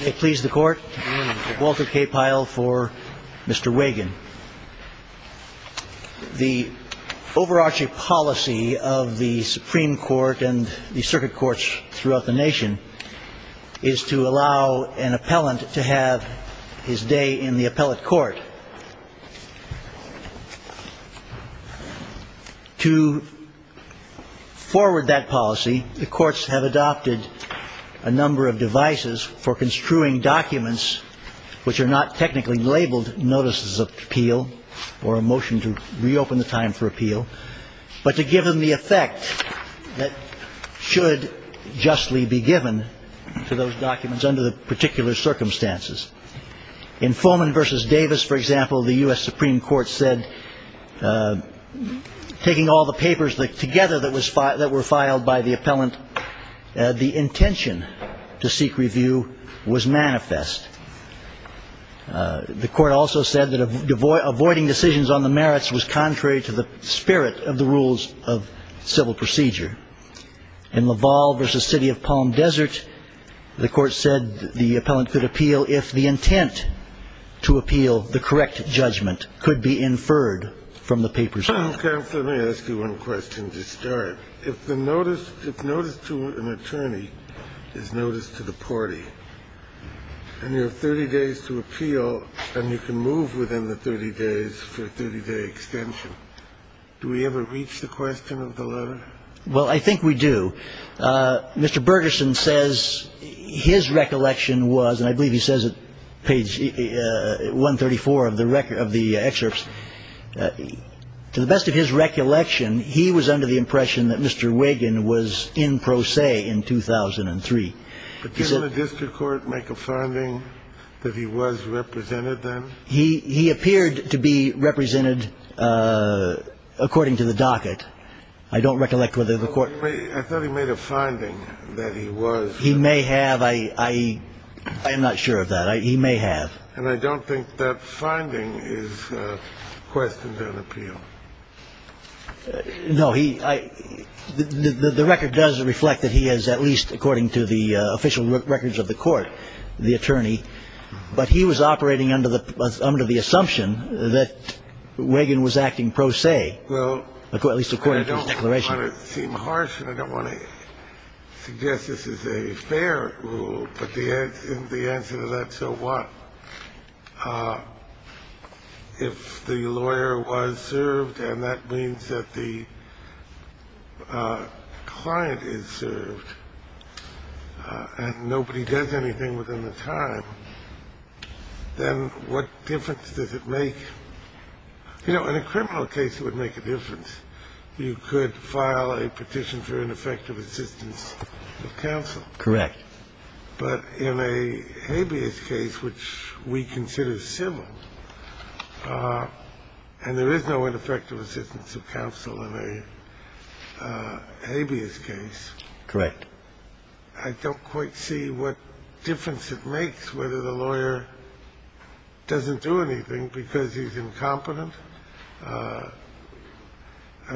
May it please the court, Walter K. Pyle for Mr. Wagan. The overarching policy of the Supreme Court and the circuit courts throughout the nation is to allow an appellant to have his day in the appellate court. To forward that policy, the courts have adopted a number of devices for construing documents which are not technically labeled notices of appeal or a motion to reopen the time for appeal, but to give them the effect that should justly be given to those documents under the particular circumstances. In Fulman v. Davis, for example, the U.S. Supreme Court said, taking all the papers together that were filed by the appellant, the intention to seek review was manifest. The court also said that avoiding decisions on the merits was contrary to the spirit of the rules of civil procedure. In Laval v. City of Palm Desert, the court said the appellant could appeal if the intent to appeal the correct judgment could be inferred from the papers. Counselor, may I ask you one question to start? If the notice to an attorney is notice to the party, and you have 30 days to appeal, and you can move within the 30 days for a 30-day extension, do we ever reach the question of the letter? Well, I think we do. Mr. Bergeson says his recollection was, and I believe he says it, page 134 of the excerpts, to the best of his recollection, he was under the impression that Mr. Wiggin was in pro se in 2003. Did the district court make a finding that he was represented then? He appeared to be represented according to the docket. I don't recollect whether the court. I thought he made a finding that he was. He may have. I am not sure of that. He may have. And I don't think that finding is a question to an appeal. No, the record does reflect that he is, at least according to the official records of the court, the attorney, but he was operating under the assumption that Wiggin was acting pro se, at least according to his declaration. Well, I don't want to seem harsh, and I don't want to suggest this is a fair rule, but isn't the answer to that so what? If the lawyer was served, and that means that the client is served, and nobody does anything within the time, then what difference does it make? You know, in a criminal case, it would make a difference. You could file a petition for ineffective assistance of counsel. Correct. But in a habeas case, which we consider civil, and there is no ineffective assistance of counsel in a habeas case. Correct. I don't quite see what difference it makes whether the lawyer doesn't do anything because he's incompetent, and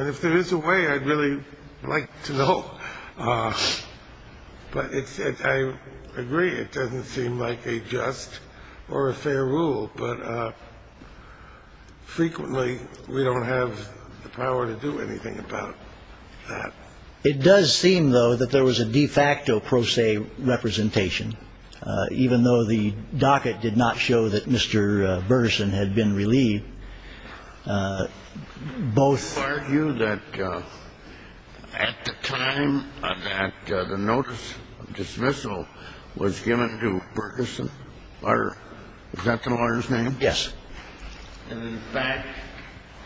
if there is a way, I'd really like to know, but I agree, it doesn't seem like a just or a fair rule, but frequently, we don't have the power to do anything about that. It does seem, though, that there was a de facto pro se representation, even though the client had been relieved, both… Would you argue that at the time that the notice of dismissal was given to Bergeson Lutter, is that the lawyer's name? Yes. And in fact,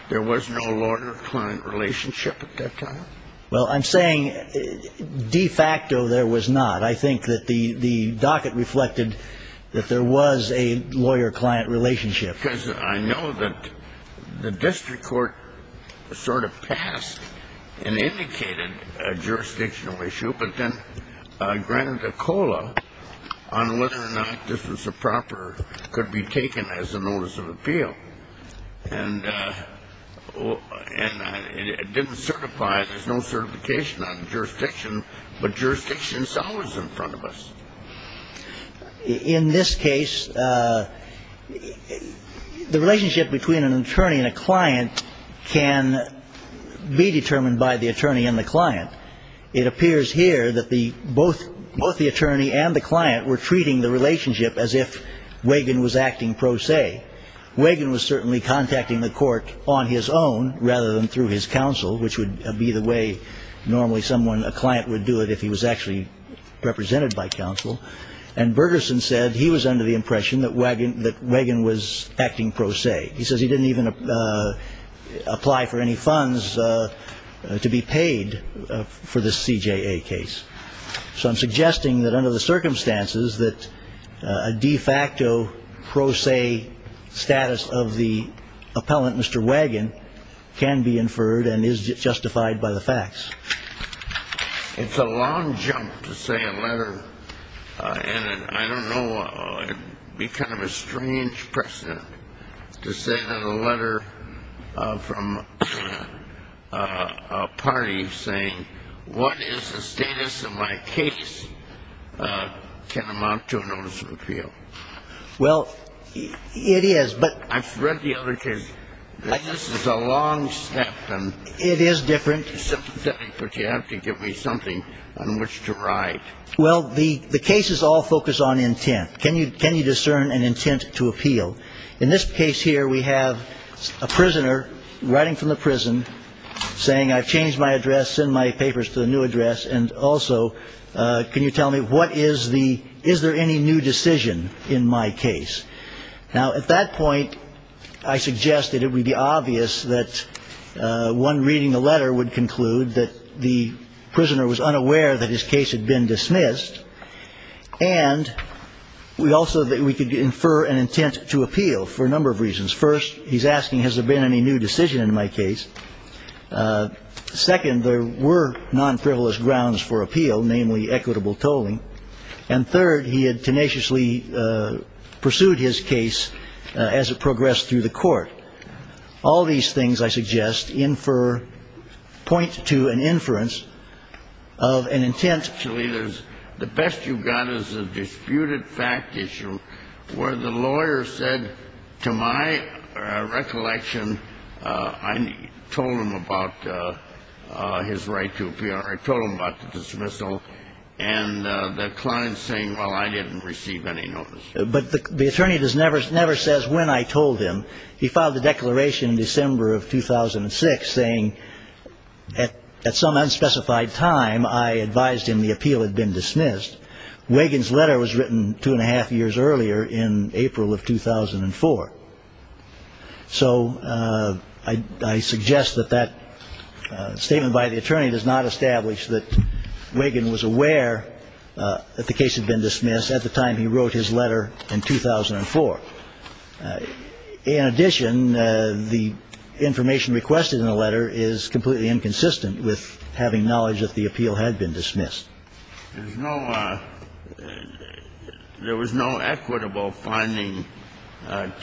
there was no lawyer-client relationship at that time? Well, I'm saying de facto there was not. I think that the docket reflected that there was a lawyer-client relationship. Because I know that the district court sort of passed and indicated a jurisdictional issue, but then granted a COLA on whether or not this was a proper, could be taken as a notice of appeal, and it didn't certify. There's no certification on jurisdiction, but jurisdiction is always in front of us. In this case, the relationship between an attorney and a client can be determined by the attorney and the client. It appears here that both the attorney and the client were treating the relationship as if Wagan was acting pro se. Wagan was certainly contacting the court on his own, rather than through his counsel, which would be the way normally someone, a client, would do it if he was actually represented by counsel. And Bergersen said he was under the impression that Wagan was acting pro se. He says he didn't even apply for any funds to be paid for this CJA case. So I'm suggesting that under the circumstances, that a de facto pro se status of the appellant, Mr. Wagan, can be inferred and is justified by the facts. It's a long jump to say a letter, and I don't know, it'd be kind of a strange precedent to say that a letter from a party saying, what is the status of my case, can amount to a notice of appeal. Well, it is, but. I've read the other case. This is a long step. It is different. But you have to give me something on which to write. Well, the cases all focus on intent. Can you discern an intent to appeal? In this case here, we have a prisoner writing from the prison saying, I've changed my address, send my papers to the new address, and also, can you tell me what is the, is there any new decision in my case? Now, at that point, I suggest that it would be obvious that one reading the letter would conclude that the prisoner was unaware that his case had been dismissed, and we also, that we could infer an intent to appeal for a number of reasons. First, he's asking, has there been any new decision in my case? Second, there were non-frivolous grounds for appeal, namely equitable tolling. And third, he had tenaciously pursued his case as it progressed through the court. All these things, I suggest, infer, point to an inference of an intent. Actually, the best you've got is a disputed fact issue where the lawyer said, to my recollection, I told him about his right to appeal, I told him about the dismissal, and the client saying, well, I didn't receive any notice. But the attorney never says when I told him. He filed a declaration in December of 2006 saying, at some unspecified time, I advised him the appeal had been dismissed. Wagan's letter was written two and a half years earlier in April of 2004. So I suggest that that statement by the attorney does not establish that Wagan was aware that the case had been dismissed at the time he wrote his letter in 2004. In addition, the information requested in the letter is completely inconsistent with having knowledge that the appeal had been dismissed. There was no equitable finding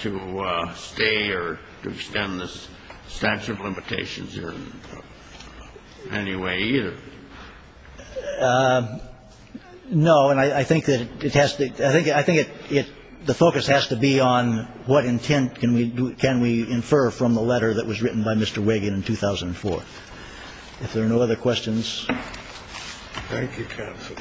to stay or to extend the statute of limitations in any way either. No, and I think that it has to be the focus has to be on what intent can we infer from the letter that was written by Mr. Wagan in 2004. If there are no other questions. Thank you, counsel.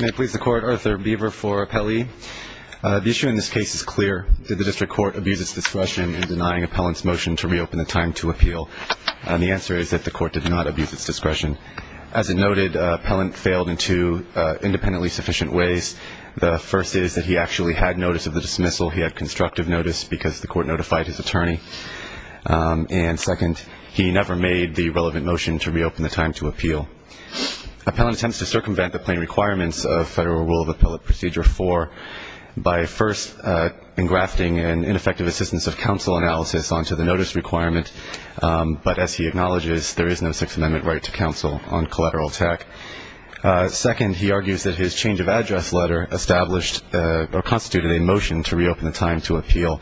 May it please the Court, Arthur Beaver for appellee. The issue in this case is clear. Did the district court abuse its discretion in denying appellant's motion to reopen the time to appeal? The answer is that the court did not abuse its discretion. As it noted, appellant failed in two independently sufficient ways. The first is that he actually had notice of the dismissal. He had constructive notice because the court notified his attorney. And second, he never made the relevant motion to reopen the time to appeal. Appellant attempts to circumvent the plain requirements of Federal Rule of Appellate Procedure 4 by first engrafting an ineffective assistance of counsel analysis onto the notice requirement, but as he acknowledges, there is no Sixth Amendment right to counsel on collateral attack. Second, he argues that his change of address letter established or constituted a motion to reopen the time to appeal.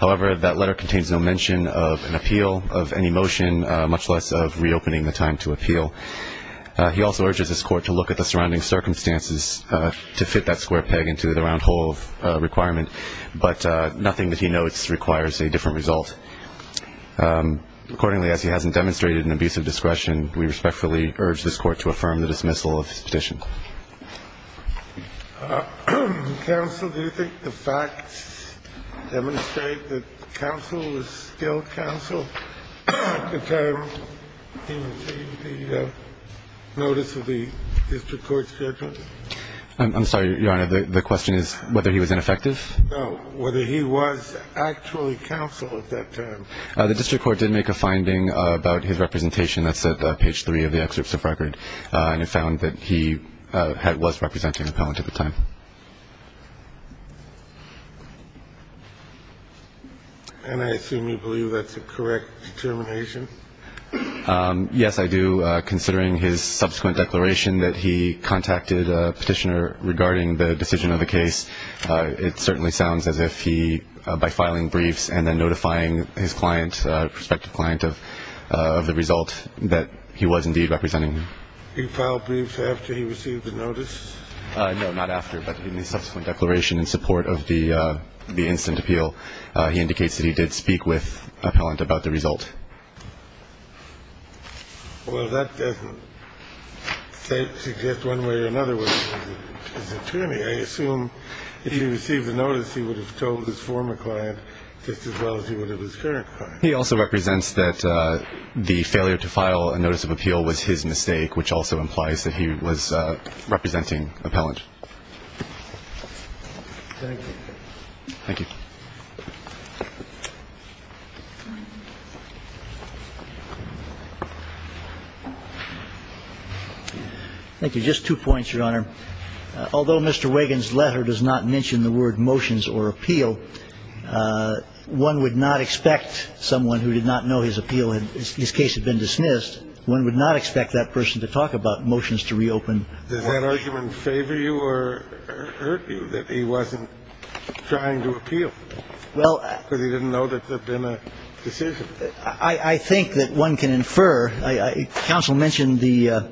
However, that letter contains no mention of an appeal of any motion, much less of reopening the time to appeal. He also urges his court to look at the surrounding circumstances to fit that square peg into the round hole requirement, but nothing that he notes requires a different result. Accordingly, as he hasn't demonstrated an abuse of discretion, we respectfully urge this Court to affirm the dismissal of his petition. Kennedy. Counsel, do you think the facts demonstrate that counsel is still counsel at the time in the notice of the district court's judgment? I'm sorry, Your Honor. The question is whether he was ineffective? Whether he was actually counsel at that time? The district court did make a finding about his representation. That's at page 3 of the excerpts of record, and it found that he was representing appellant at the time. And I assume you believe that's a correct determination? Yes, I do, considering his subsequent declaration that he contacted a petitioner regarding the decision of the case. It certainly sounds as if he, by filing briefs and then notifying his client, prospective client of the result, that he was indeed representing him. He filed briefs after he received the notice? No, not after, but in the subsequent declaration in support of the instant appeal. He indicates that he did speak with appellant about the result. Well, that suggests one way or another with his attorney. I assume if he received the notice, he would have told his former client just as well as he would have his current client. He also represents that the failure to file a notice of appeal was his mistake, which also implies that he was representing appellant. Thank you. Thank you. Thank you. Just two points, Your Honor. Although Mr. Wagan's letter does not mention the word motions or appeal, one would not expect someone who did not know his appeal, his case had been dismissed, one would not expect that person to talk about motions to reopen. Does that argument favor you or hurt you, that he wasn't trying to appeal? Well – Because he didn't know that there had been a decision. I think that one can infer. Counsel mentioned the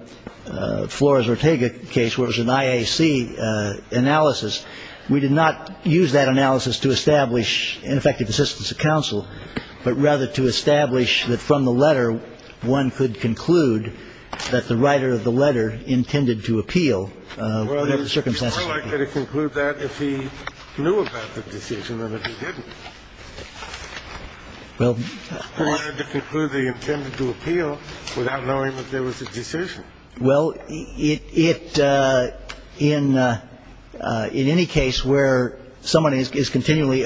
Flores-Ortega case where it was an IAC analysis. We did not use that analysis to establish ineffective assistance of counsel, but rather to establish that from the letter, one could conclude that the writer of the letter intended to appeal. Well, it's more likely to conclude that if he knew about the decision than if he didn't. I wanted to conclude that he intended to appeal without knowing that there was a decision. Well, in any case where someone is continually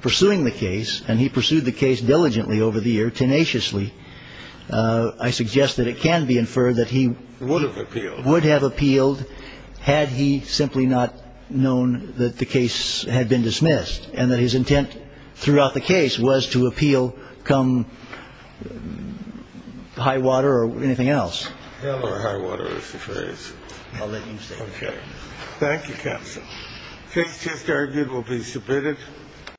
pursuing the case, and he pursued the case diligently over the years, tenaciously, I suggest that it can be inferred that he – Would have appealed. Would have appealed had he simply not known that the case had been dismissed and that his intent throughout the case was to appeal come high water or anything else. Hell or high water is the phrase. I'll let him say it. Okay. Thank you, counsel. Case just argued will be submitted.